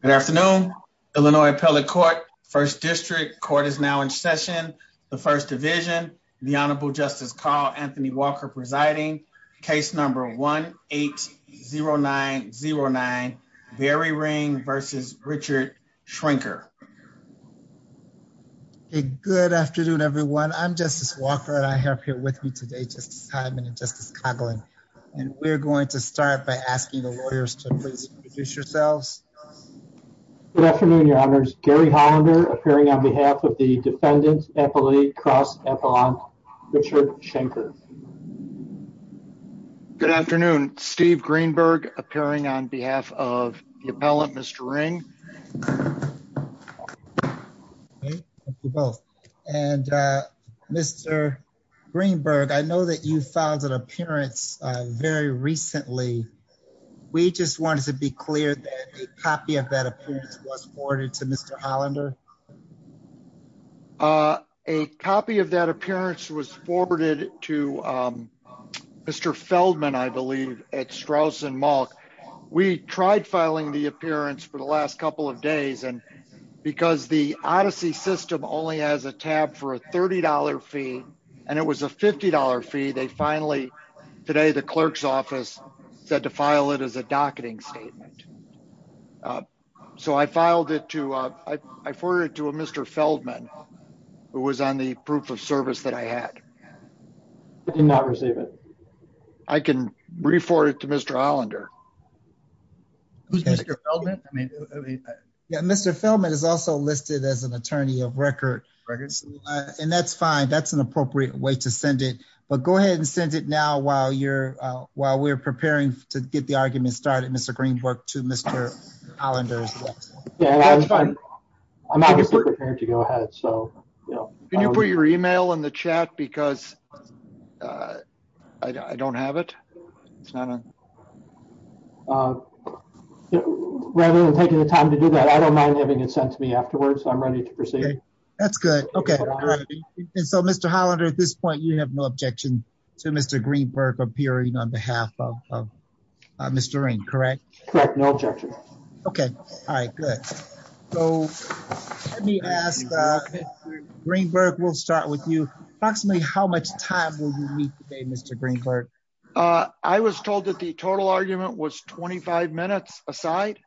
Good afternoon, Illinois Appellate Court, First District. Court is now in session. The First Division, the Honorable Justice Carl Anthony Walker presiding. Case number 1-8-0909, Barry Ring versus Richard Schrenker. Good afternoon, everyone. I'm Justice Walker and I have here with me today Justice Hyman and Justice Coughlin and we're going to start by asking the Good afternoon, Your Honors. Gary Hollander appearing on behalf of the Defendant Appellate Cross Appellant, Richard Schrenker. Good afternoon, Steve Greenberg appearing on behalf of the Appellant, Mr. Ring. And Mr. Greenberg, I know that you filed an appearance very recently. We just wanted to be clear that a copy of that appearance was forwarded to Mr. Hollander. A copy of that appearance was forwarded to Mr. Feldman, I believe, at Straus and Malk. We tried filing the appearance for the last couple of days and because the Odyssey system only has a tab for a $30 fee and it was a $50 fee. They finally today, the clerk's office said to file it as a docketing statement. So I filed it to, I forwarded it to Mr. Feldman, who was on the proof of service that I had. I did not receive it. I can re-forward it to Mr. Hollander. Mr. Feldman is also listed as an attorney of record. And that's fine. That's an appropriate way to send it. But go ahead and send it now while we're preparing to get the argument started. Mr. Greenberg to Mr. Hollander. Yeah, that's fine. I'm obviously prepared to go ahead. Can you put your email in the chat because I don't have it. Rather than taking the time to do that, I don't mind having it sent to me afterwards. I'm ready to proceed. That's good. Okay. So, Mr. Hollander, at this point, you have no objection to Mr. Greenberg appearing on behalf of Mr. Ring, correct? Correct. No objection. Okay. All right. Good. So, let me ask, Greenberg, we'll start with you. Approximately how much time will you meet today, Mr. Greenberg? I was told that the total argument was 25 minutes aside.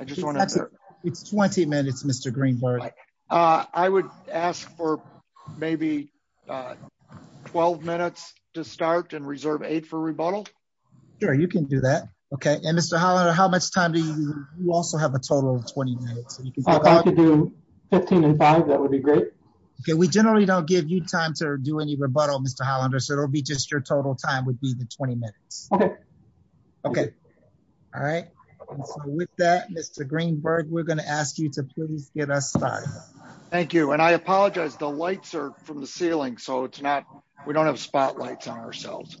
It's 20 minutes, Mr. Greenberg. I would ask for maybe 12 minutes to start and reserve eight for rebuttal. Sure, you can do that. Okay. And Mr. Hollander, how much time do you also have a total of 20 minutes? I'll try to do 15 and five. That would be great. We generally don't give you time to do any rebuttal, Mr. Hollander, so it'll be just your total time would be the 20 minutes. Okay. All right. With that, Mr. Greenberg, we're going to ask you to please get us started. Thank you. And I apologize. The lights are from the ceiling, so it's not we don't have spotlights on ourselves.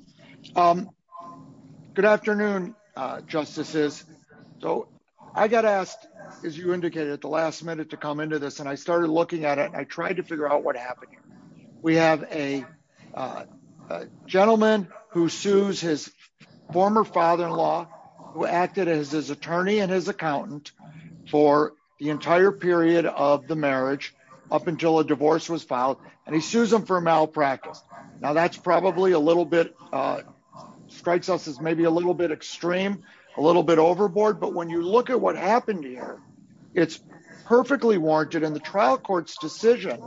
Good afternoon, justices. So I got asked, as you indicated at the last minute to come into this and I started looking at it. I tried to figure out what happened. We have a gentleman who sues his former father in law, who acted as his attorney and his accountant for the entire period of the marriage up until a divorce was filed. And he sues him for malpractice. Now, that's probably a little bit strikes us as maybe a little bit extreme, a little bit overboard. But when you look at what happened here, it's perfectly warranted. And the trial court's decision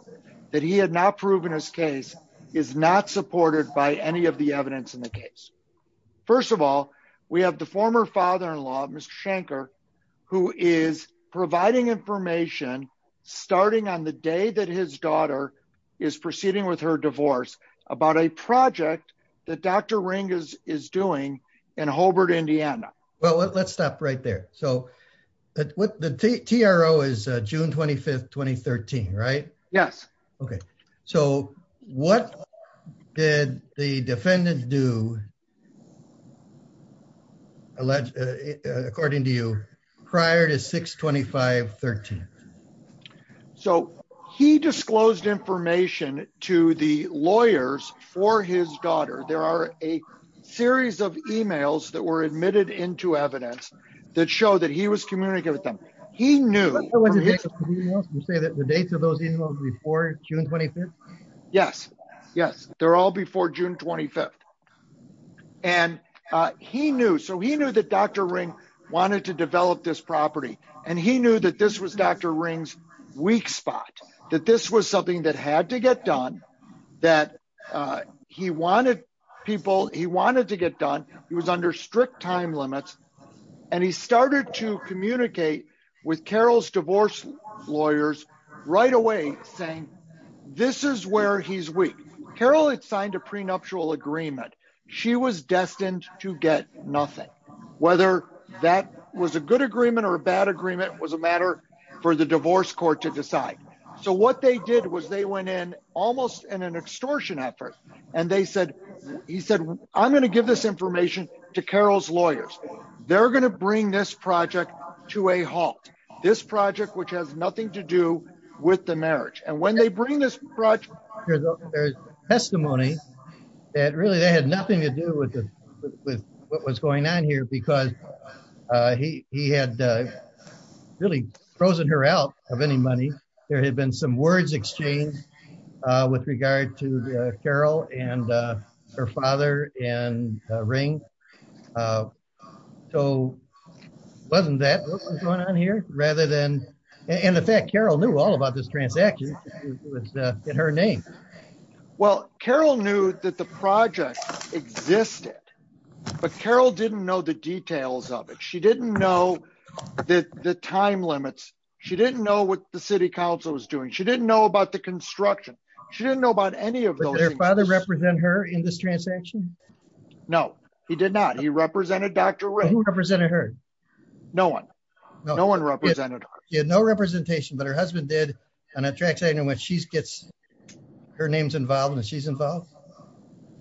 that he had not proven his case is not supported by any of the evidence in the case. First of all, we have the former father in law, Mr. Shanker, who is providing information, starting on the day that his daughter is proceeding with her divorce about a project that Dr. Ring is doing in Holbrook, Indiana. Well, let's stop right there. So the TRO is June 25th, 2013, right? Yes. Okay. So what did the defendant do, according to you, prior to 6-25-13? So he disclosed information to the lawyers for his daughter. There are a series of emails that were admitted into evidence that show that he was communicating with them. You say that the dates of those emails were before June 25th? Yes. Yes. They're all before June 25th. And he knew, so he knew that Dr. Ring wanted to develop this property, and he knew that this was Dr. Ring's weak spot. That this was something that had to get done, that he wanted people, he wanted to get done, he was under strict time limits, and he started to communicate with Carol's divorce lawyers right away, saying, this is where he's weak. Carol had signed a prenuptial agreement. She was destined to get nothing. Whether that was a good agreement or a bad agreement was a matter for the divorce court to decide. So what they did was they went in, almost in an extortion effort, and they said, he said, I'm going to give this information to Carol's lawyers. They're going to bring this project to a halt. This project, which has nothing to do with the marriage. And when they bring this project... There's testimony that really that had nothing to do with what was going on here, because he had really frozen her out of any money. There had been some words exchanged with regard to Carol and her father and Ring. So, wasn't that what was going on here? Rather than... In effect, Carol knew all about this transaction. It was in her name. Well, Carol knew that the project existed, but Carol didn't know the details of it. She didn't know the time limits. She didn't know what the city council was doing. She didn't know about the construction. She didn't know about any of those things. Did her father represent her in this transaction? No, he did not. He represented Dr. Ring. Who represented her? No one. No one represented her. She had no representation, but her husband did on a transaction in which she gets... Her name's involved and she's involved?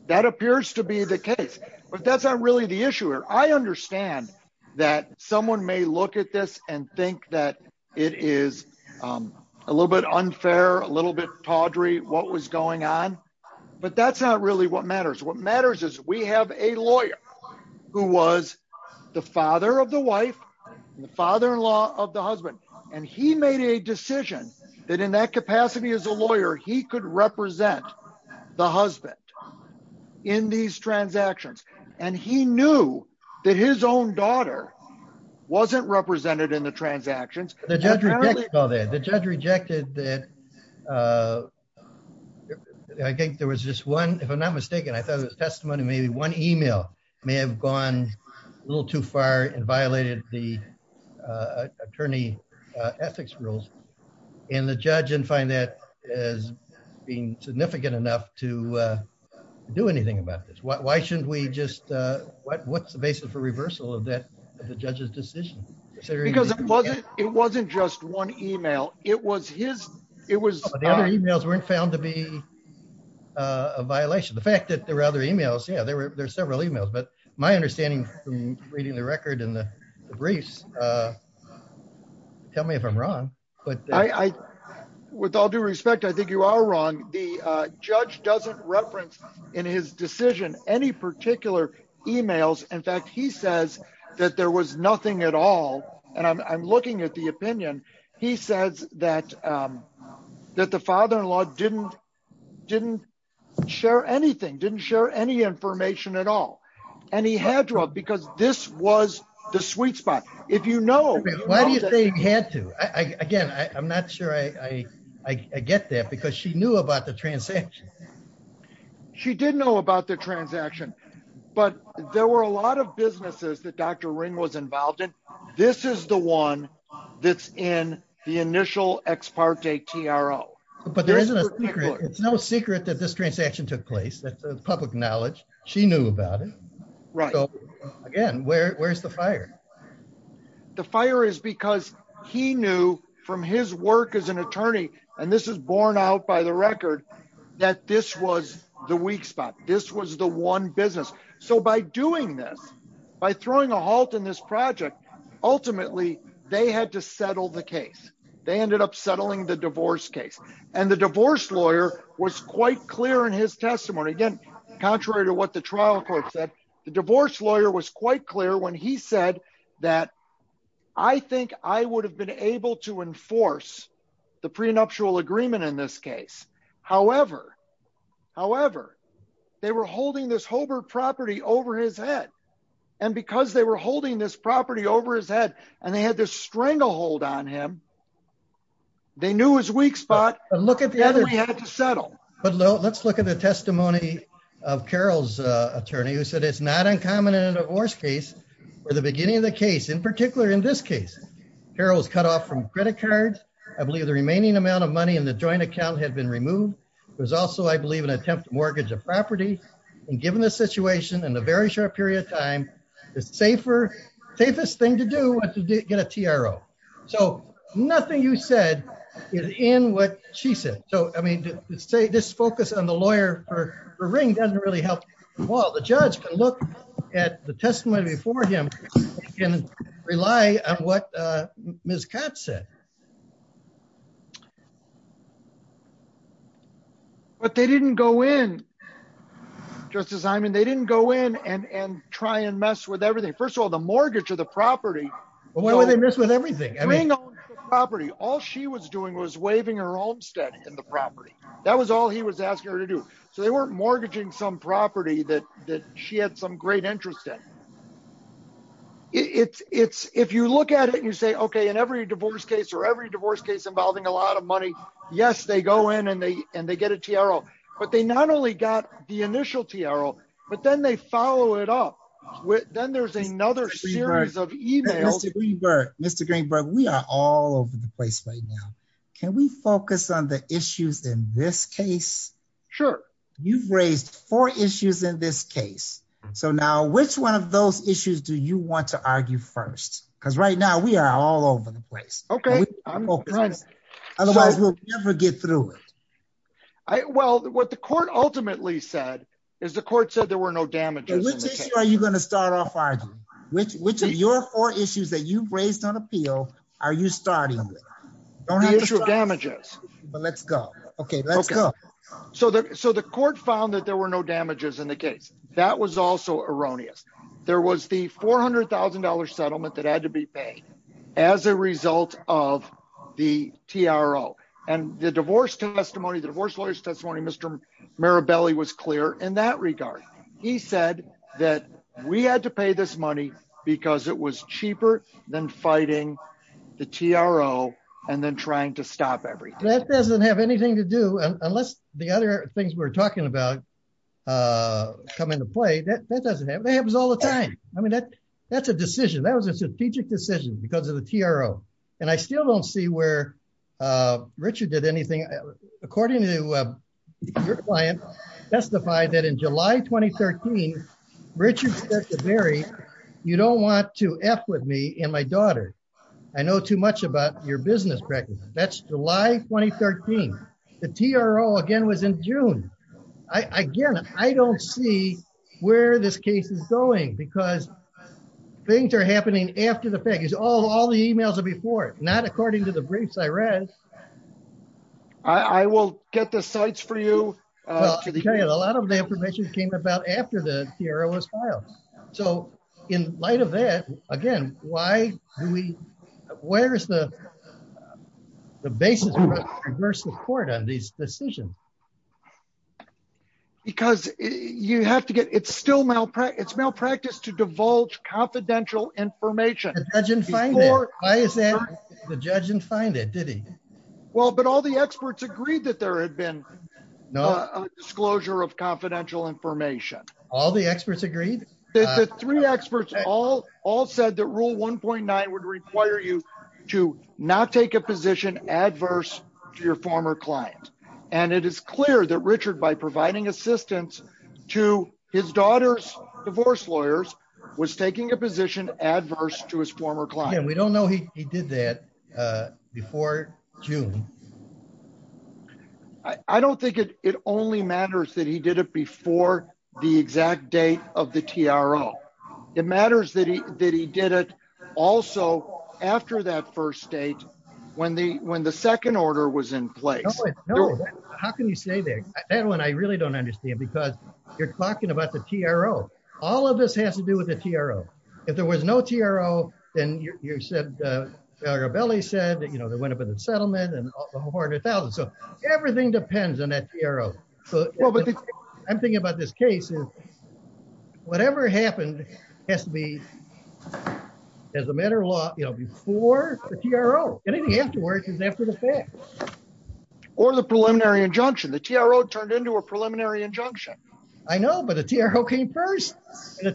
That appears to be the case, but that's not really the issue here. I understand that someone may look at this and think that it is a little bit unfair, a little bit tawdry, what was going on. But that's not really what matters. What matters is we have a lawyer who was the father of the wife and the father-in-law of the husband, and he made a decision that in that capacity as a lawyer, he could represent the husband in these transactions. And he knew that his own daughter wasn't represented in the transactions. The judge rejected that. I think there was just one, if I'm not mistaken, I thought it was testimony, maybe one email may have gone a little too far and violated the attorney ethics rules. And the judge didn't find that as being significant enough to do anything about this. Why shouldn't we just... What's the basis for reversal of the judge's decision? Because it wasn't just one email. It was his... The other emails weren't found to be a violation. The fact that there were other emails, yeah, there were several emails, but my understanding from reading the record and the briefs, tell me if I'm wrong. With all due respect, I think you are wrong. The judge doesn't reference in his decision any particular emails. In fact, he says that there was nothing at all. And I'm looking at the opinion. He says that the father-in-law didn't share anything, didn't share any information at all. And he had to have because this was the sweet spot. If you know... Why do you think he had to? Again, I'm not sure I get that because she knew about the transaction. She did know about the transaction, but there were a lot of businesses that Dr. Ring was involved in. This is the one that's in the initial ex parte TRO. But there isn't a secret. It's no secret that this transaction took place. That's a public knowledge. She knew about it. Right. Again, where's the fire? The fire is because he knew from his work as an attorney, and this is borne out by the record, that this was the weak spot. This was the one business. So by doing this, by throwing a halt in this project, ultimately, they had to settle the case. They ended up settling the divorce case. And the divorce lawyer was quite clear in his testimony. Again, contrary to what the trial court said, the divorce lawyer was quite clear when he said that I think I would have been able to enforce the prenuptial agreement in this case. However, however, they were holding this Hobart property over his head. And because they were holding this property over his head, and they had this stranglehold on him, they knew his weak spot. But let's look at the testimony of Carol's attorney who said it's not uncommon in a divorce case, or the beginning of the case, in particular in this case. Carol was cut off from credit cards. I believe the remaining amount of money in the joint account had been removed. There's also I believe an attempt to mortgage a property. And given the situation and the very short period of time, the safest thing to do was to get a TRO. So nothing you said is in what she said. So I mean, this focus on the lawyer or the ring doesn't really help. Well, the judge can look at the testimony before him and rely on what Ms. Cotts said. But they didn't go in. Justice Simon, they didn't go in and try and mess with everything. First of all, the mortgage of the property. Why would they mess with everything? All she was doing was waiving her homestead in the property. That was all he was asking her to do. So they weren't mortgaging some property that she had some great interest in. It's if you look at it, you say, okay, in every divorce case or every divorce case involving a lot of money. Yes, they go in and they and they get a TRO, but they not only got the initial TRO, but then they follow it up with then there's another series of emails. Mr. Greenberg, we are all over the place right now. Can we focus on the issues in this case? Sure. You've raised four issues in this case. So now which one of those issues do you want to argue first? Because right now we are all over the place. Okay. Otherwise we'll never get through it. Well, what the court ultimately said is the court said there were no damages. Which issue are you going to start off arguing? Which of your four issues that you've raised on appeal are you starting with? The issue of damages. Let's go. Okay, let's go. So the court found that there were no damages in the case. That was also erroneous. There was the $400,000 settlement that had to be paid as a result of the TRO and the divorce testimony, the divorce lawyer's testimony. Mr. Mirabelli was clear in that regard. He said that we had to pay this money because it was cheaper than fighting the TRO and then trying to stop everything. That doesn't have anything to do, unless the other things we're talking about come into play, that doesn't happen. It happens all the time. I mean, that's a decision. That was a strategic decision because of the TRO. And I still don't see where Richard did anything. According to your client testified that in July 2013, Richard said to Barry, you don't want to F with me and my daughter. I know too much about your business practice. That's July 2013. The TRO again was in June. Again, I don't see where this case is going because things are happening after the fact. All the emails are before, not according to the briefs I read. I will get the sites for you. A lot of the information came about after the TRO was filed. So, in light of that, again, why do we, where's the basis for the court on these decisions? Because you have to get, it's still malpractice, it's malpractice to divulge confidential information. The judge didn't find it, did he? Well, but all the experts agreed that there had been a disclosure of confidential information. All the experts agreed? The three experts all said that Rule 1.9 would require you to not take a position adverse to your former client. And it is clear that Richard, by providing assistance to his daughter's divorce lawyers, was taking a position adverse to his former client. Again, we don't know he did that before June. I don't think it only matters that he did it before the exact date of the TRO. It matters that he did it also after that first date when the second order was in place. How can you say that? That one I really don't understand because you're talking about the TRO. All of this has to do with the TRO. If there was no TRO, then you said, Belli said, you know, there went up in the settlement and a whole horde of thousands. So, everything depends on that TRO. I'm thinking about this case. Whatever happened has to be, as a matter of law, before the TRO. Anything afterwards is after the fact. Or the preliminary injunction. The TRO turned into a preliminary injunction. I know, but the TRO came first. The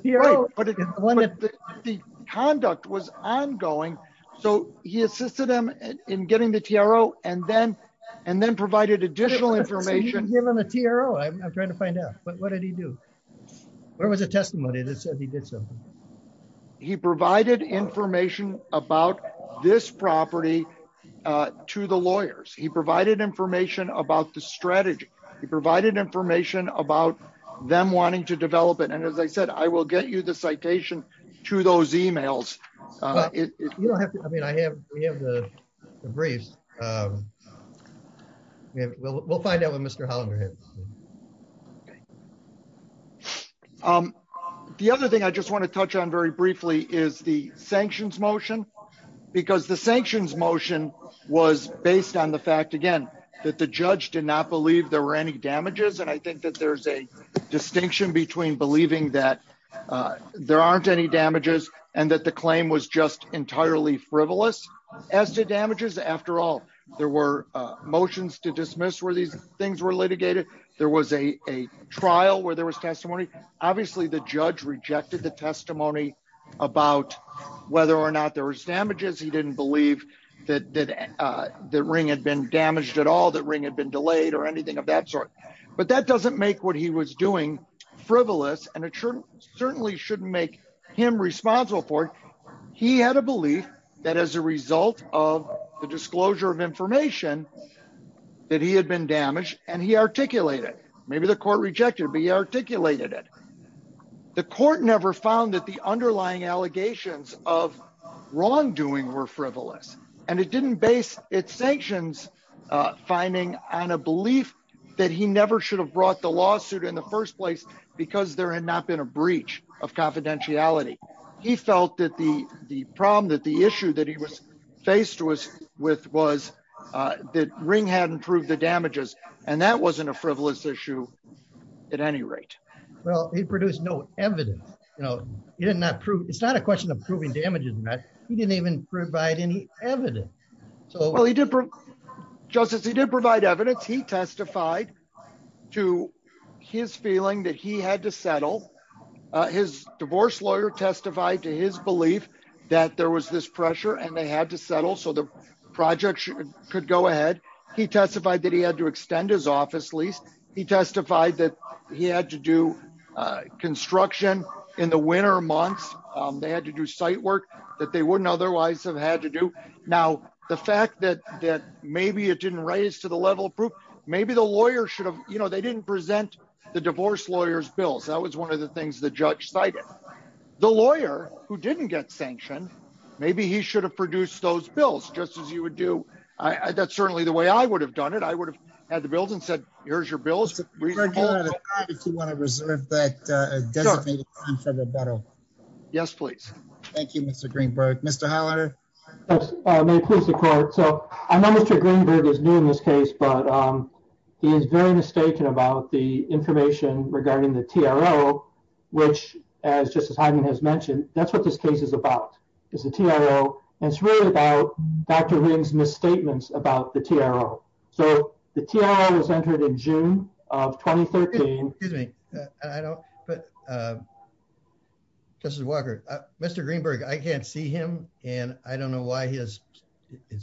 conduct was ongoing. So, he assisted him in getting the TRO and then provided additional information. So, you didn't give him the TRO? I'm trying to find out. What did he do? Where was the testimony that said he did something? He provided information about this property to the lawyers. He provided information about the strategy. He provided information about them wanting to develop it. And, as I said, I will get you the citation to those emails. You don't have to. I mean, we have the briefs. We'll find out when Mr. Hollinger hits. The other thing I just want to touch on very briefly is the sanctions motion. Because the sanctions motion was based on the fact, again, that the judge did not believe there were any damages. And I think that there's a distinction between believing that there aren't any damages and that the claim was just entirely frivolous as to damages. After all, there were motions to dismiss where these things were litigated. There was a trial where there was testimony. Obviously, the judge rejected the testimony about whether or not there was damages. He didn't believe that the ring had been damaged at all, that ring had been delayed or anything of that sort. But that doesn't make what he was doing frivolous, and it certainly shouldn't make him responsible for it. He had a belief that as a result of the disclosure of information, that he had been damaged, and he articulated it. Maybe the court rejected it, but he articulated it. The court never found that the underlying allegations of wrongdoing were frivolous. And it didn't base its sanctions finding on a belief that he never should have brought the lawsuit in the first place because there had not been a breach of confidentiality. He felt that the problem, that the issue that he was faced with was that ring hadn't proved the damages, and that wasn't a frivolous issue at any rate. Well, he produced no evidence. It's not a question of proving damages, Matt. He didn't even provide any evidence. Justice, he did provide evidence. He testified to his feeling that he had to settle. His divorce lawyer testified to his belief that there was this pressure and they had to settle so the project could go ahead. He testified that he had to extend his office lease. He testified that he had to do construction in the winter months. They had to do site work that they wouldn't otherwise have had to do. Now, the fact that that maybe it didn't raise to the level of proof, maybe the lawyer should have, you know, they didn't present the divorce lawyers bills. That was one of the things the judge cited the lawyer who didn't get sanctioned. Maybe he should have produced those bills just as you would do. I that's certainly the way I would have done it. I would have had the bills and said, here's your bills. If you want to reserve that. Yes, please. Thank you, Mr. Greenberg. Mr. Hollander. May it please the court. So I know Mr. Greenberg is new in this case, but he is very mistaken about the information regarding the TRO, which as Justice Hyden has mentioned, that's what this case is about. It's the TRO and it's really about Dr. Ring's misstatements about the TRO. So the TRO was entered in June of 2013. I don't, but Justice Walker, Mr. Greenberg, I can't see him. And I don't know why his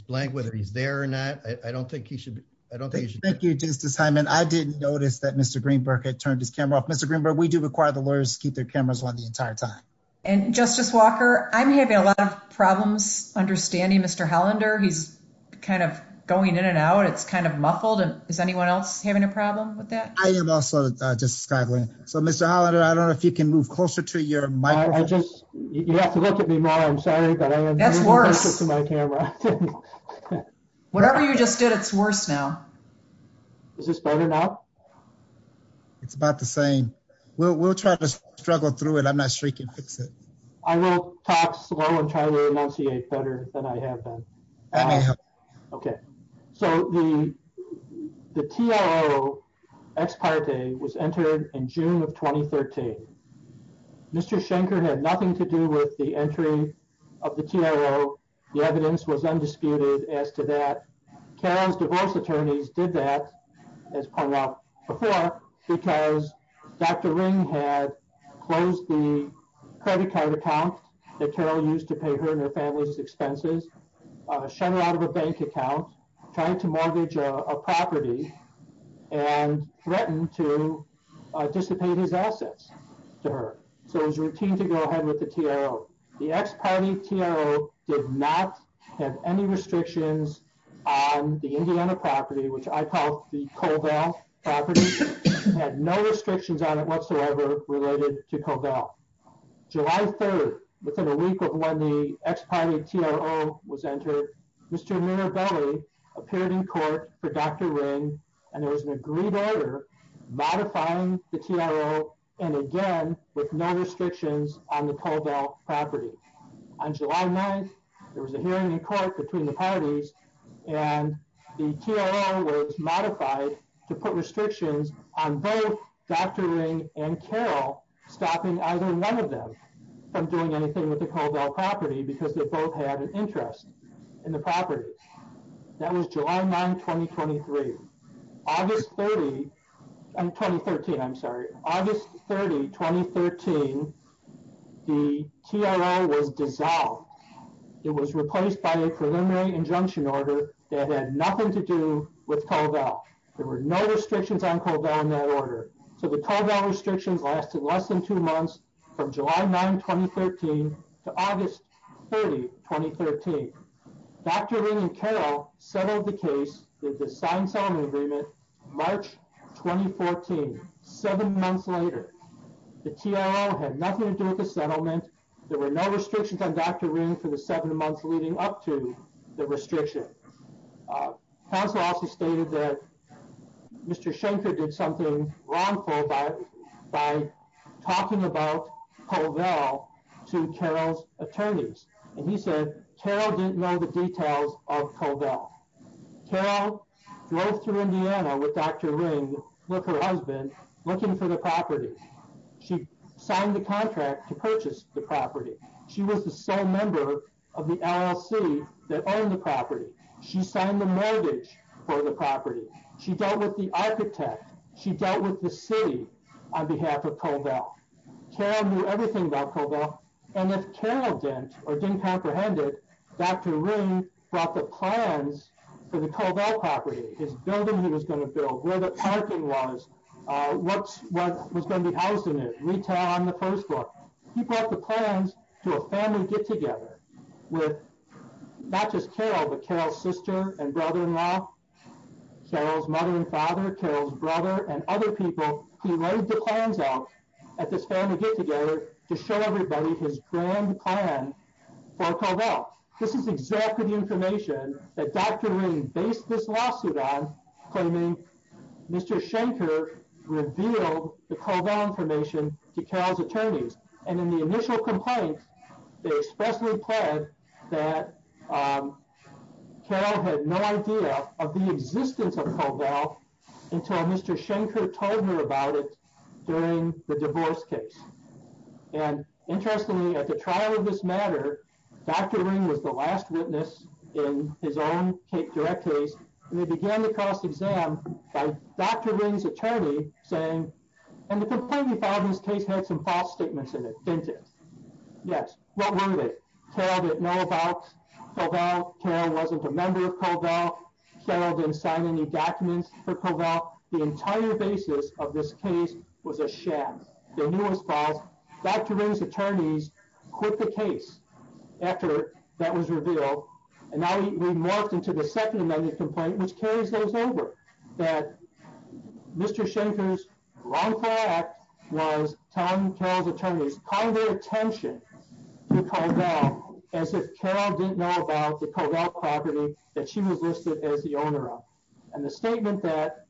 blank, whether he's there or not. I don't think he should. I don't think he should. Thank you, Justice Hyden. I didn't notice that Mr. Greenberg had turned his camera off. Mr. Greenberg, we do require the lawyers keep their cameras on the entire time. And Justice Walker, I'm having a lot of problems understanding Mr. Hollander. He's kind of going in and out. It's kind of muffled. And is anyone else having a problem with that? I am also, Justice Skaggling. So Mr. Hollander, I don't know if you can move closer to your microphone. You have to look at me more. I'm sorry. That's worse. Whatever you just did, it's worse now. Is this better now? It's about the same. We'll try to struggle through it. I'm not sure we can fix it. I will talk slow and try to enunciate better than I have been. That may help. Okay. So the TRO ex parte was entered in June of 2013. Mr. Schenker had nothing to do with the entry of the TRO. The evidence was undisputed as to that. Carol's divorce attorneys did that, as pointed out before, because Dr. Ring had closed the credit card account that Carol used to pay her and her family's expenses. And so, Mr. Schenker was shunning out of a bank account, trying to mortgage a property and threatened to dissipate his assets to her. So it was routine to go ahead with the TRO. The ex parte TRO did not have any restrictions on the Indiana property, which I call the Colville property. Had no restrictions on it whatsoever related to Colville. July 3rd, within a week of when the ex parte TRO was entered, Mr. Mirabelli appeared in court for Dr. Ring, and there was an agreed order modifying the TRO. And again, with no restrictions on the Colville property. On July 9th, there was a hearing in court between the parties. And the TRO was modified to put restrictions on both Dr. Ring and Carol stopping either one of them from doing anything with the Colville property because they both had an interest in the property. That was July 9th, 2023. August 30th, 2013, I'm sorry. August 30th, 2013, the TRO was dissolved. It was replaced by a preliminary injunction order that had nothing to do with Colville. There were no restrictions on Colville in that order. So the Colville restrictions lasted less than two months from July 9th, 2013 to August 30th, 2013. Dr. Ring and Carol settled the case with the signed settlement agreement March 2014, seven months later. The TRO had nothing to do with the settlement. There were no restrictions on Dr. Ring for the seven months leading up to the restriction. Council also stated that Mr. Schenker did something wrongful by talking about Colville to Carol's attorneys. And he said Carol didn't know the details of Colville. Carol drove through Indiana with Dr. Ring with her husband looking for the property. She signed the contract to purchase the property. She was the sole member of the LLC that owned the property. She signed the mortgage for the property. She dealt with the architect. She dealt with the city on behalf of Colville. Carol knew everything about Colville. And if Carol didn't or didn't comprehend it, Dr. Ring brought the plans for the Colville property, his building he was going to build, where the parking was, what was going to be housed in it, retail on the first floor. He brought the plans to a family get-together with not just Carol, but Carol's sister and brother-in-law, Carol's mother and father, Carol's brother, and other people. He laid the plans out at this family get-together to show everybody his grand plan for Colville. This is exactly the information that Dr. Ring based this lawsuit on, claiming Mr. Shanker revealed the Colville information to Carol's attorneys. And in the initial complaint, they expressly pled that Carol had no idea of the existence of Colville until Mr. Shanker told her about it during the divorce case. And interestingly, at the trial of this matter, Dr. Ring was the last witness in his own direct case, and they began the cross-exam by Dr. Ring's attorney saying, and the complaint he filed in this case had some false statements in it, didn't it? Yes. What were they? Carol didn't know about Colville. Carol wasn't a member of Colville. Carol didn't sign any documents for Colville. The entire basis of this case was a sham. Dr. Ring's attorneys quit the case after that was revealed, and now we've morphed into the second amended complaint, which carries those over. That Mr. Shanker's wrongful act was telling Carol's attorneys, calling their attention to Colville as if Carol didn't know about the Colville property that she was listed as the owner of. And the statement that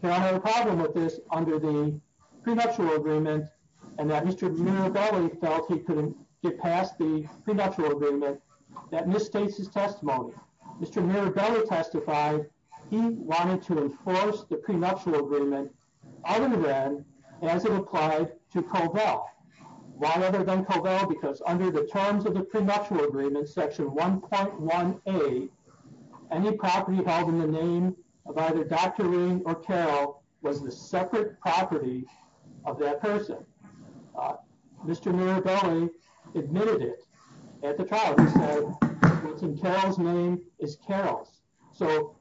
Carol had a problem with this under the prenuptial agreement, and that Mr. Mirabelli felt he couldn't get past the prenuptial agreement, that misstates his testimony. Mr. Mirabelli testified he wanted to enforce the prenuptial agreement other than as it applied to Colville. Why other than Colville? Because under the terms of the prenuptial agreement, section 1.1a, any property held in the name of either Dr. Ring or Carol was the separate property of that person. Mr. Mirabelli admitted it at the trial. He said what's in Carol's name is Carol's. So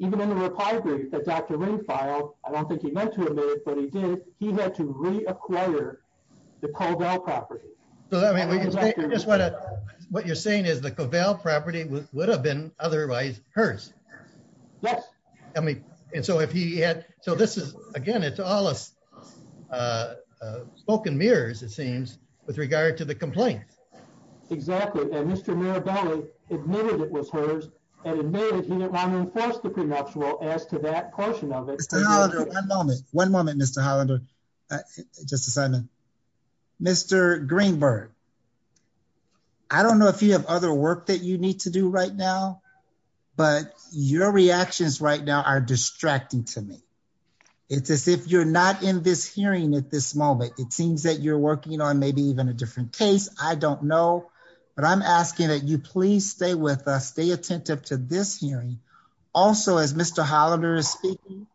even in the reply brief that Dr. Ring filed, I don't think he meant to admit it, but he did. He had to reacquire the Colville property. I guess what you're saying is the Colville property would have been otherwise hers. Yes. I mean, and so if he had, so this is, again, it's all spoken mirrors, it seems, with regard to the complaint. Exactly. And Mr. Mirabelli admitted it was hers and admitted he didn't want to enforce the prenuptial as to that portion of it. Mr. Hollander, one moment. One moment, Mr. Hollander. Justice Simon. Mr. Greenberg, I don't know if you have other work that you need to do right now, but your reactions right now are distracting to me. It's as if you're not in this hearing at this moment. It seems that you're working on maybe even a different case. I don't know. But I'm asking that you please stay with us. Stay attentive to this hearing. Also, as Mr. Hollander is speaking,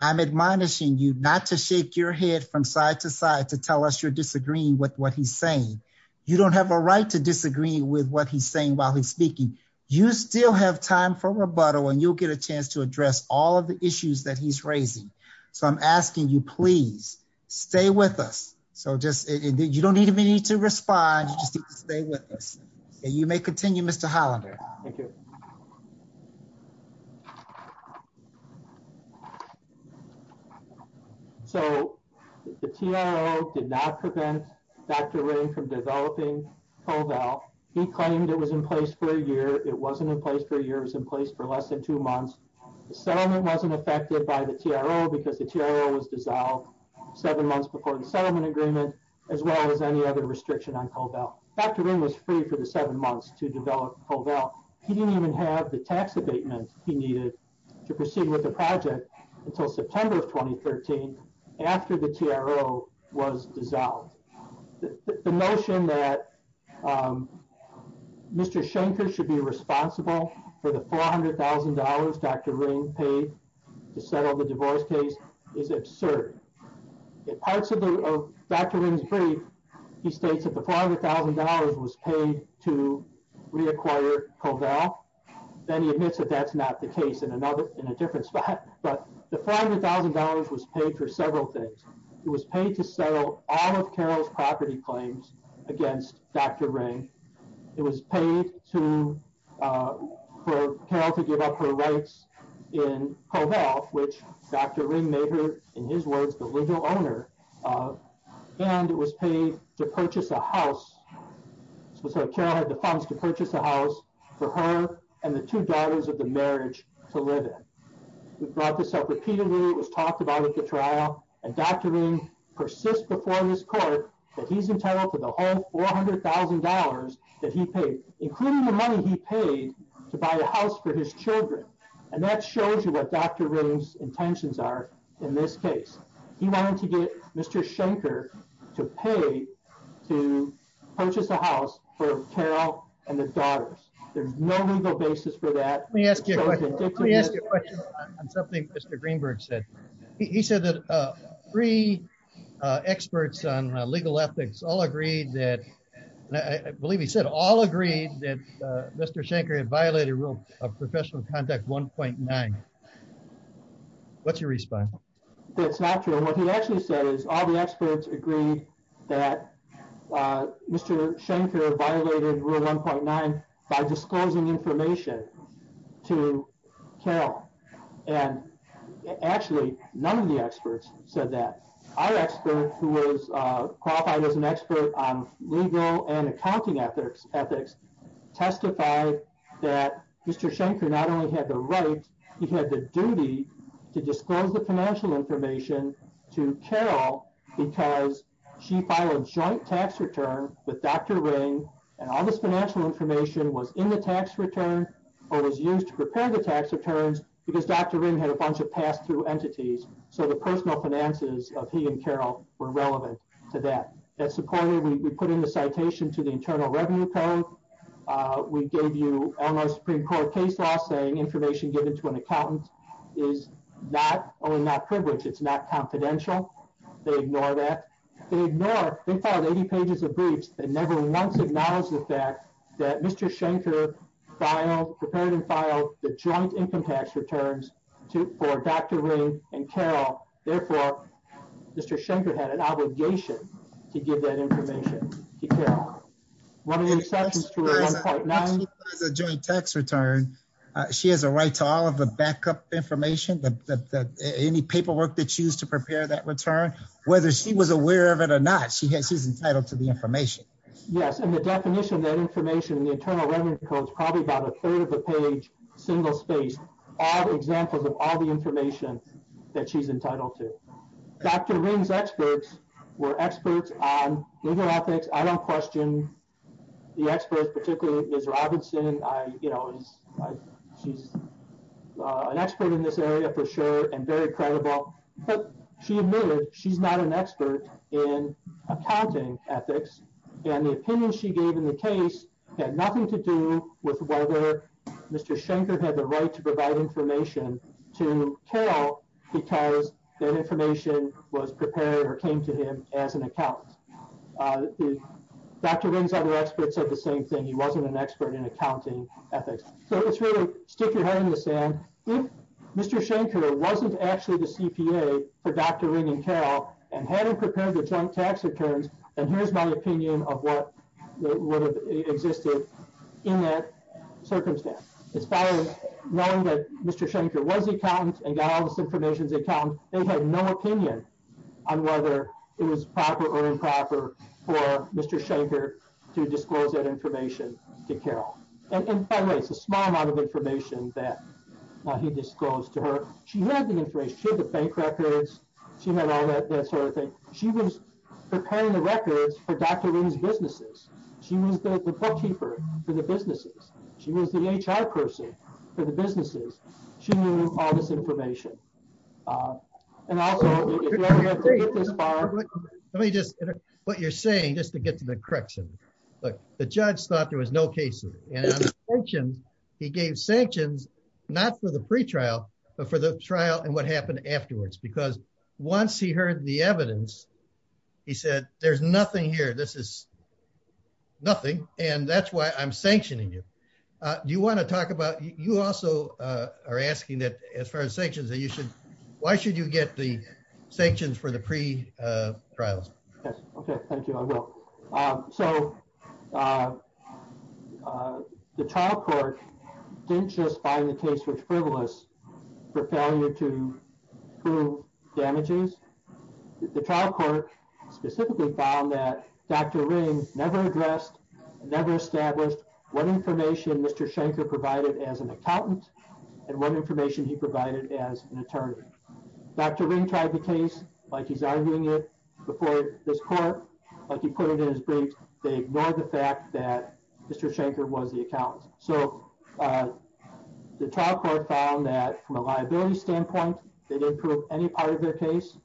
I'm admonishing you not to shake your head from side to side to tell us you're disagreeing with what he's saying. You don't have a right to disagree with what he's saying while he's speaking. You still have time for rebuttal and you'll get a chance to address all of the issues that he's raising. So I'm asking you, please stay with us. So just you don't need me to respond. You may continue, Mr. Hollander. Thank you. So, the TRO did not prevent Dr. Ring from developing CoVal. He claimed it was in place for a year. It wasn't in place for a year. It was in place for less than two months. The settlement wasn't affected by the TRO because the TRO was dissolved seven months before the settlement agreement, as well as any other restriction on CoVal. Dr. Ring was free for the seven months to develop CoVal. He didn't even have the tax abatement he needed to proceed with the project until September of 2013, after the TRO was dissolved. The notion that Mr. Shanker should be responsible for the $400,000 Dr. Ring paid to settle the divorce case is absurd. In parts of Dr. Ring's brief, he states that the $400,000 was paid to reacquire CoVal. Then he admits that that's not the case in a different spot. But the $400,000 was paid for several things. It was paid to settle all of Carol's property claims against Dr. Ring. It was paid for Carol to give up her rights in CoVal, which Dr. Ring made her, in his words, the legal owner. And it was paid to purchase a house. So Carol had the funds to purchase a house for her and the two daughters of the marriage to live in. We've brought this up repeatedly. It was talked about at the trial. And Dr. Ring persists before this court that he's entitled to the whole $400,000 that he paid, including the money he paid to buy a house for his children. And that shows you what Dr. Ring's intentions are in this case. He wanted to get Mr. Shanker to pay to purchase a house for Carol and the daughters. There's no legal basis for that. Let me ask you a question. Let me ask you a question on something Mr. Greenberg said. He said that three experts on legal ethics all agreed that, I believe he said, all agreed that Mr. Shanker had violated Rule of Professional Conduct 1.9. What's your response? That's not true. What he actually said is all the experts agreed that Mr. Shanker violated Rule 1.9 by disclosing information to Carol. And actually, none of the experts said that. Our expert, who was qualified as an expert on legal and accounting ethics, testified that Mr. Shanker not only had the right, he had the duty to disclose the financial information to Carol because she filed a joint tax return with Dr. Ring. And all this financial information was in the tax return or was used to prepare the tax returns because Dr. Ring had a bunch of pass-through entities. So the personal finances of he and Carol were relevant to that. We put in the citation to the Internal Revenue Code. We gave you Elmhurst Supreme Court case law saying information given to an accountant is not only not privileged, it's not confidential. They ignore that. They never once acknowledged the fact that Mr. Shanker prepared and filed the joint income tax returns for Dr. Ring and Carol. Therefore, Mr. Shanker had an obligation to give that information to Carol. As far as the joint tax return, she has a right to all of the backup information, any paperwork that she used to prepare that return. Whether she was aware of it or not, she's entitled to the information. Yes, and the definition of that information in the Internal Revenue Code is probably about a third of the page, single-spaced, all examples of all the information that she's entitled to. Dr. Ring's experts were experts on legal ethics. I don't question the experts, particularly Ms. Robinson. She's an expert in this area for sure and very credible. She admitted she's not an expert in accounting ethics and the opinion she gave in the case had nothing to do with whether Mr. Shanker had the right to provide information to Carol because that information was prepared or came to him as an accountant. Dr. Ring's other experts said the same thing. He wasn't an expert in accounting ethics. So it's really stick your head in the sand. If Mr. Shanker wasn't actually the CPA for Dr. Ring and Carol and hadn't prepared the joint tax returns, then here's my opinion of what would have existed in that circumstance. Knowing that Mr. Shanker was an accountant and got all this information as an accountant, they had no opinion on whether it was proper or improper for Mr. Shanker to disclose that information to Carol. And by the way, it's a small amount of information that he disclosed to her. She had the information. She had the bank records. She had all that sort of thing. She was preparing the records for Dr. Ring's businesses. She was the bookkeeper for the businesses. She was the HR person for the businesses. She knew all this information. And also, let me just, what you're saying, just to get to the correction. Look, the judge thought there was no case. He gave sanctions, not for the pretrial, but for the trial and what happened afterwards because once he heard the evidence, he said, there's nothing here. This is nothing. And that's why I'm sanctioning you. Do you want to talk about, you also are asking that as far as sanctions that you should, why should you get the sanctions for the pretrials? Yes. Okay. Thank you. I will. So, the trial court didn't just find the case was frivolous for failure to prove damages. The trial court specifically found that Dr. Ring never addressed, never established what information Mr. Shanker provided as an accountant and what information he provided as an attorney. Dr. Ring tried the case like he's arguing it before this court, like he put it in his briefs. They ignored the fact that Mr. Shanker was the accountant. So, the trial court found that from a liability standpoint, they didn't prove any part of their case.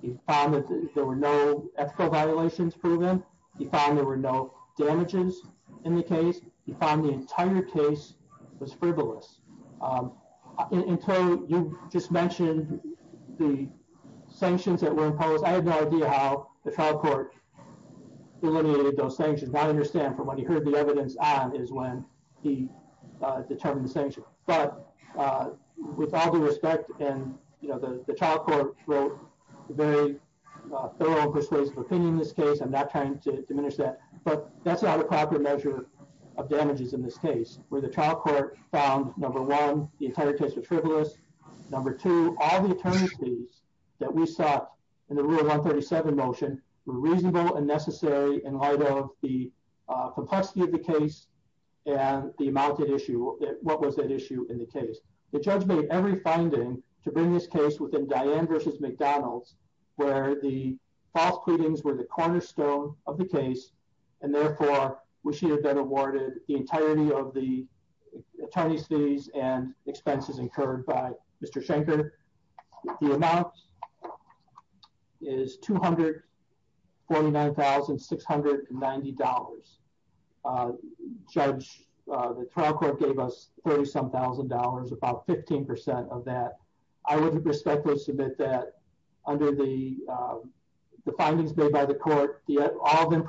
He found that there were no ethical violations proven. He found there were no damages in the case. He found the entire case was frivolous. Until you just mentioned the sanctions that were imposed, I have no idea how the trial court eliminated those sanctions. I understand from what he heard the evidence on is when he determined the sanctions. But with all due respect, and the trial court wrote a very thorough and persuasive opinion in this case. I'm not trying to diminish that. But that's not a proper measure of damages in this case, where the trial court found, number one, the entire case was frivolous. Number two, all the attorneys fees that we sought in the rule 137 motion were reasonable and necessary in light of the complexity of the case and the amount at issue, what was at issue in the case. The judge made every finding to bring this case within Diane versus McDonald's, where the false pleadings were the cornerstone of the case. And therefore, we should have been awarded the entirety of the attorneys fees and expenses incurred by Mr. Shanker. The amount is $249,690. Judge, the trial court gave us $37,000, about 15% of that. I would respectfully submit that, under the findings made by the court, all of them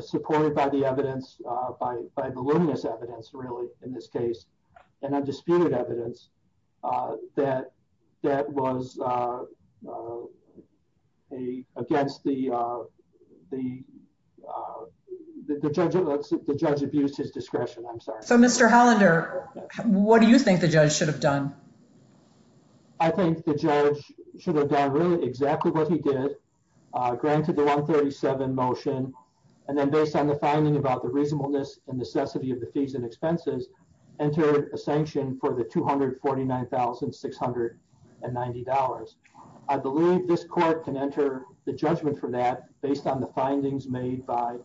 supported by the evidence, by voluminous evidence, really, in this case, and undisputed evidence, that was against the judge abused his discretion. So, Mr. Hollander, what do you think the judge should have done? I think the judge should have done really exactly what he did, granted the 137 motion, and then based on the finding about the reasonableness and necessity of the fees and expenses, entered a sanction for the $249,690. I believe this court can enter the judgment for that, based on the findings made by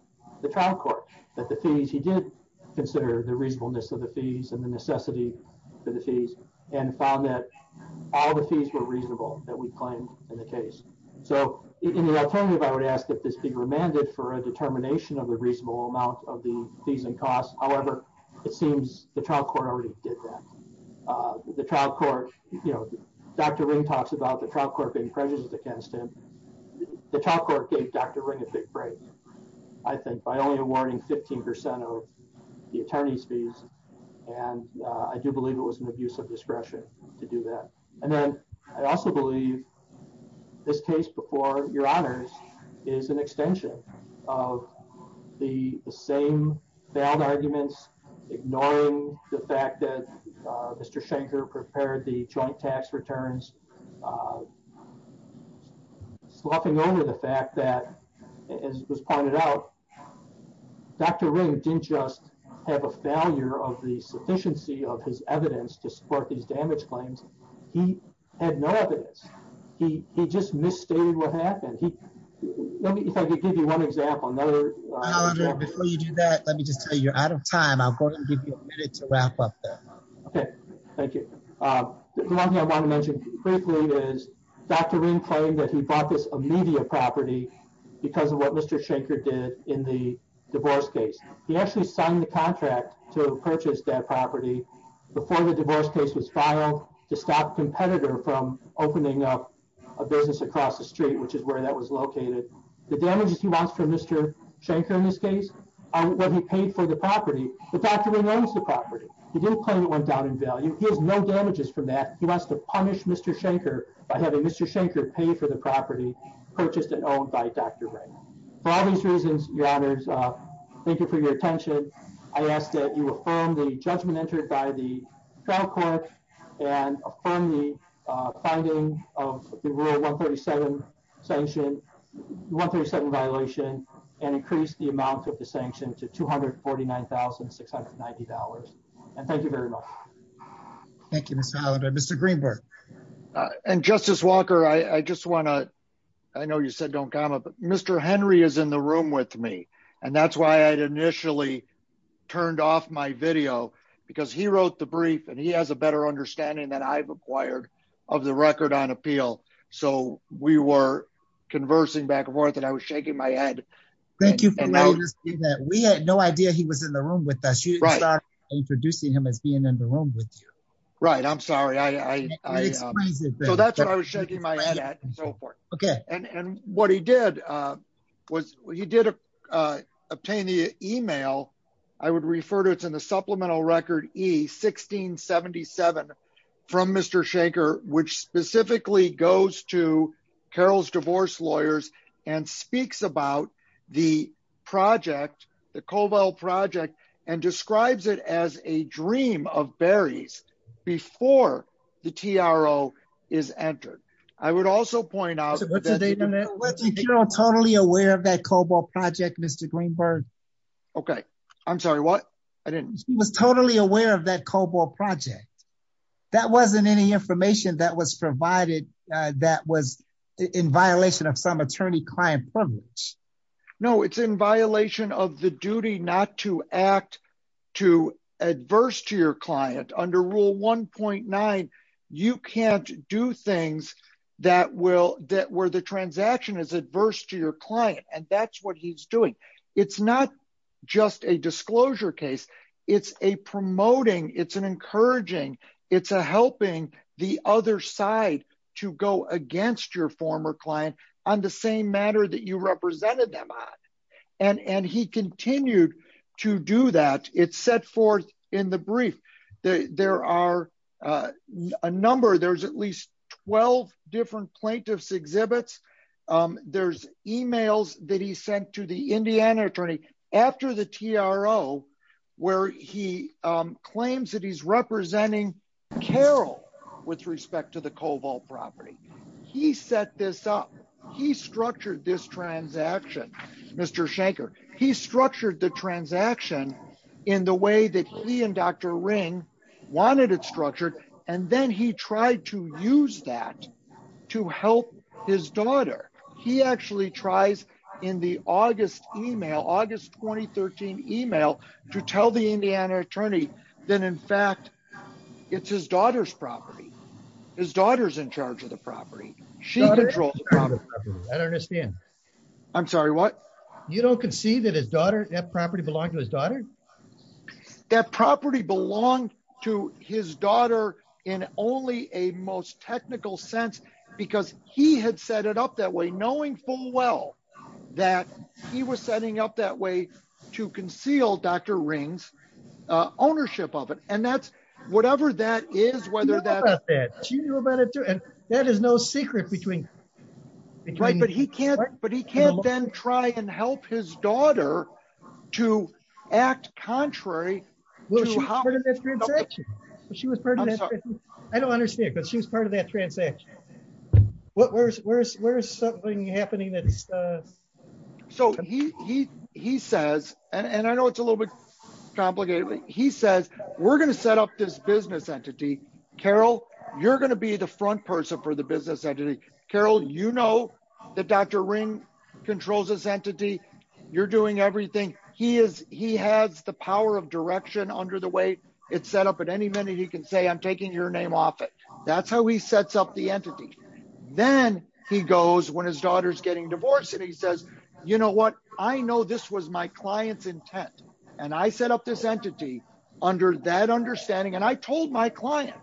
the trial court, that the fees, he did consider the reasonableness of the fees and the necessity for the fees, and found that all the fees were reasonable that we claimed in the case. So, in the alternative, I would ask that this be remanded for a determination of a reasonable amount of the fees and costs. However, it seems the trial court already did that. The trial court, you know, Dr. Ring talks about the trial court being prejudiced against him. The trial court gave Dr. Ring a big break, I think, by only awarding 15% of the attorney's fees, and I do believe it was an abuse of discretion to do that. And then, I also believe this case before your honors is an extension of the same valid arguments, ignoring the fact that Mr. Shanker prepared the joint tax returns, sloughing over the fact that, as was pointed out, Dr. Ring didn't just have a failure of the sufficiency of his evidence to support these damage claims. He had no evidence. He just misstated what happened. Let me, if I could give you one example. Before you do that, let me just tell you, you're out of time. I'm going to give you a minute to wrap up. Okay, thank you. One thing I want to mention briefly is Dr. Ring claimed that he bought this immediate property because of what Mr. Shanker did in the divorce case. He actually signed the contract to purchase that property before the divorce case was filed to stop a competitor from opening up a business across the street, which is where that was located. The damages he wants from Mr. Shanker in this case are what he paid for the property, but Dr. Ring owns the property. He didn't claim it went down in value. He has no damages from that. He wants to punish Mr. Shanker by having Mr. Shanker pay for the property purchased and owned by Dr. Ring. For all these reasons, your honors, thank you for your attention. I ask that you affirm the judgment entered by the federal court and affirm the finding of the rule 137 violation and increase the amount of the sanction to $249,690. And thank you very much. Thank you, Mr. Greenberg. And Justice Walker, I just want to, I know you said don't comment, but Mr. Henry is in the room with me. And that's why I initially turned off my video, because he wrote the brief and he has a better understanding that I've acquired of the record on appeal. So, we were conversing back and forth and I was shaking my head. Thank you. We had no idea he was in the room with us. Introducing him as being in the room with you. Right, I'm sorry. So that's what I was shaking my head at and so forth. Okay. And what he did was he did obtain the email. I would refer to it's in the supplemental record he 1677 from Mr. Schenker, which specifically goes to Carol's divorce lawyers and speaks about the project, the cobalt project and describes it as a dream of berries. Before the TRO is entered. I would also point out that they don't totally aware of that cobalt project Mr Greenberg. Okay, I'm sorry what I didn't was totally aware of that cobalt project. That wasn't any information that was provided. That was in violation of some attorney client privilege. No, it's in violation of the duty not to act to adverse to your client under rule 1.9. You can't do things that will that were the transaction is adverse to your client, and that's what he's doing. It's not just a disclosure case. It's a promoting it's an encouraging. It's a helping the other side to go against your former client on the same matter that you represented them on and and he continued to do that it's set forth in the brief. There are a number there's at least 12 different plaintiffs exhibits. There's emails that he sent to the Indiana attorney after the TRO, where he claims that he's representing Carol, with respect to the cobalt property. He set this up. He structured this transaction. Mr Shanker, he structured the transaction in the way that he and Dr ring wanted it structured, and then he tried to use that to help his daughter. He actually tries in the August email August 2013 email to tell the Indiana attorney that in fact, it's his daughter's property. His daughter's in charge of the property. She controlled. I don't understand. I'm sorry what you don't can see that his daughter that property belong to his daughter. That property belong to his daughter in only a most technical sense, because he had set it up that way knowing full well that he was setting up that way to conceal Dr rings ownership of it, and that's whatever that is whether that that is no secret between. Right, but he can't, but he can't then try and help his daughter to act contrary. She was. I don't understand but she was part of that transaction. What where's where's where's something happening that's so he, he, he says, and I know it's a little bit complicated, he says, we're going to set up this business entity. Carol, you're going to be the front person for the business entity, Carol, you know that Dr ring controls this entity, you're doing everything he is, he has the power of direction under the way it's set up at any minute he can say I'm taking your name off it. That's how he sets up the entity. Then he goes when his daughter's getting divorced and he says, you know what, I know this was my clients intent, and I set up this entity under that understanding and I told my client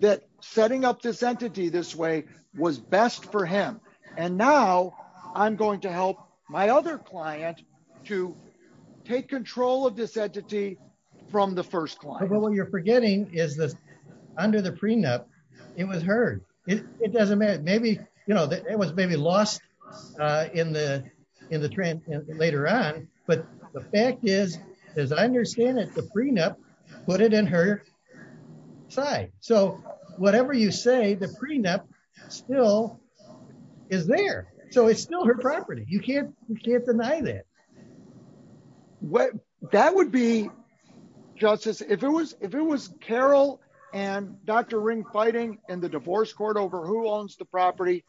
that setting up this entity this way was best for him. And now I'm going to help my other client to take control of this entity from the first client when you're forgetting is this under the prenup. It was heard, it doesn't matter maybe you know that it was maybe lost in the, in the trend. Later on, but the fact is, is I understand that the prenup, put it in her side. So, whatever you say the prenup still is there. So it's still her property, you can't, you can't deny that. What that would be justice if it was, if it was Carol, and Dr ring fighting in the divorce court over who owns the property.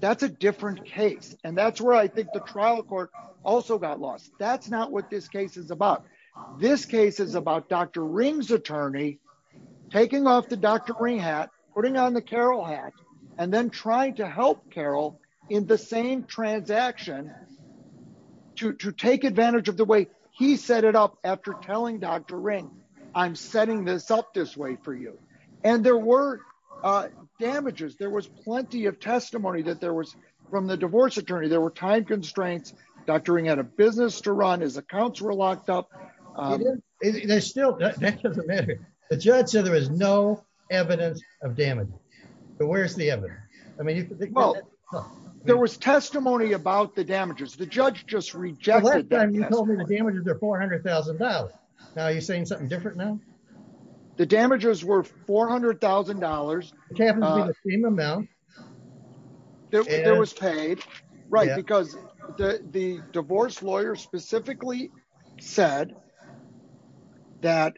That's a different case, and that's where I think the trial court also got lost. That's not what this case is about this case is about Dr rings attorney, taking off the doctor green hat, putting on the Carol hat, and then trying to help Carol in the same transaction to take advantage of the way he set it up after telling Dr ring. I'm setting this up this way for you. And there were damages there was plenty of testimony that there was from the divorce attorney there were time constraints. Dr ring had a business to run his accounts were locked up. There's still that doesn't matter. The judge said there is no evidence of damage. But where's the evidence. I mean, there was testimony about the damages the judge just rejected the damages are $400,000. Now you're saying something different now. The damages were $400,000. Now, it was paid right because the divorce lawyer specifically said that,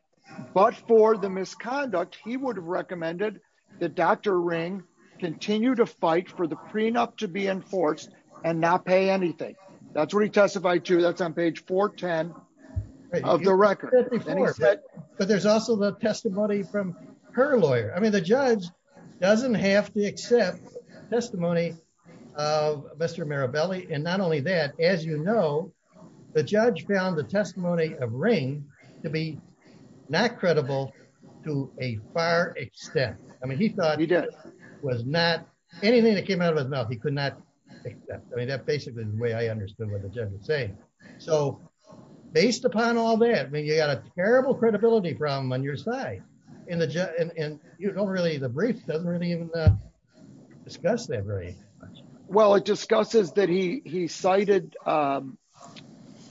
but for the misconduct, he would have recommended the doctor ring, continue to fight for the prenup to be enforced and not pay anything. That's where he testified to that's on page 410 of the record. But there's also the testimony from her lawyer, I mean the judge doesn't have to accept testimony. Mr Marabelli and not only that, as you know, the judge found the testimony of ring to be not credible, to a far extent, I mean he thought he did was not anything that came out of his mouth he could not. I mean that basically the way I understood what the judge was saying. So, based upon all that mean you got a terrible credibility problem on your side in the jet and you don't really the brief doesn't really even discuss that very well it discusses the fact that he cited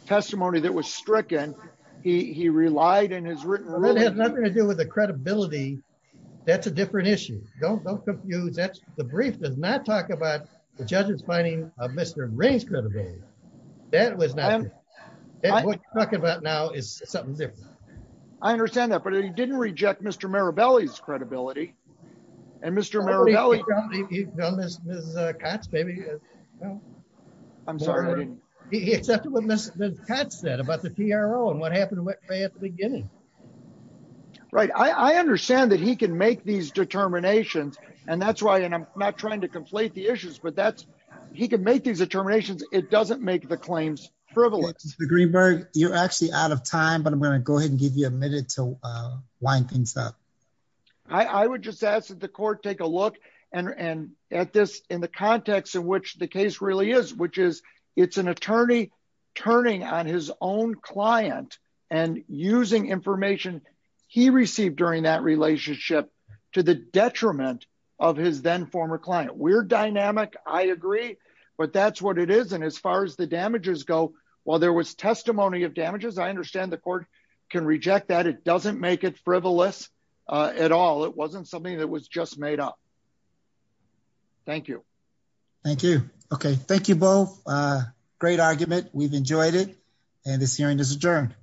testimony that was stricken. He relied and has written really has nothing to do with the credibility. That's a different issue, don't don't confuse that the brief does not talk about the judges finding of Mr. That was not talking about now is something different. I understand that but he didn't reject Mr Marabelli is credibility. And Mr. Maybe. I'm sorry. Right, I understand that he can make these determinations, and that's why and I'm not trying to complete the issues but that's, he can make these determinations, it doesn't make the claims, privilege the greenberg, you're actually out of time but I'm going to go ahead and give you a minute to wind things up. I would just ask that the court, take a look and and at this in the context in which the case really is, which is, it's an attorney, turning on his own client and using information he received during that relationship to the detriment of his then former client we're dynamic, I agree, but that's what it is and as far as the damages go, while there was testimony of damages I understand the court can reject that it doesn't make it frivolous at all it wasn't something that was just made up. Thank you. Thank you. Okay, thank you both. Great argument, we've enjoyed it. And this hearing is adjourned.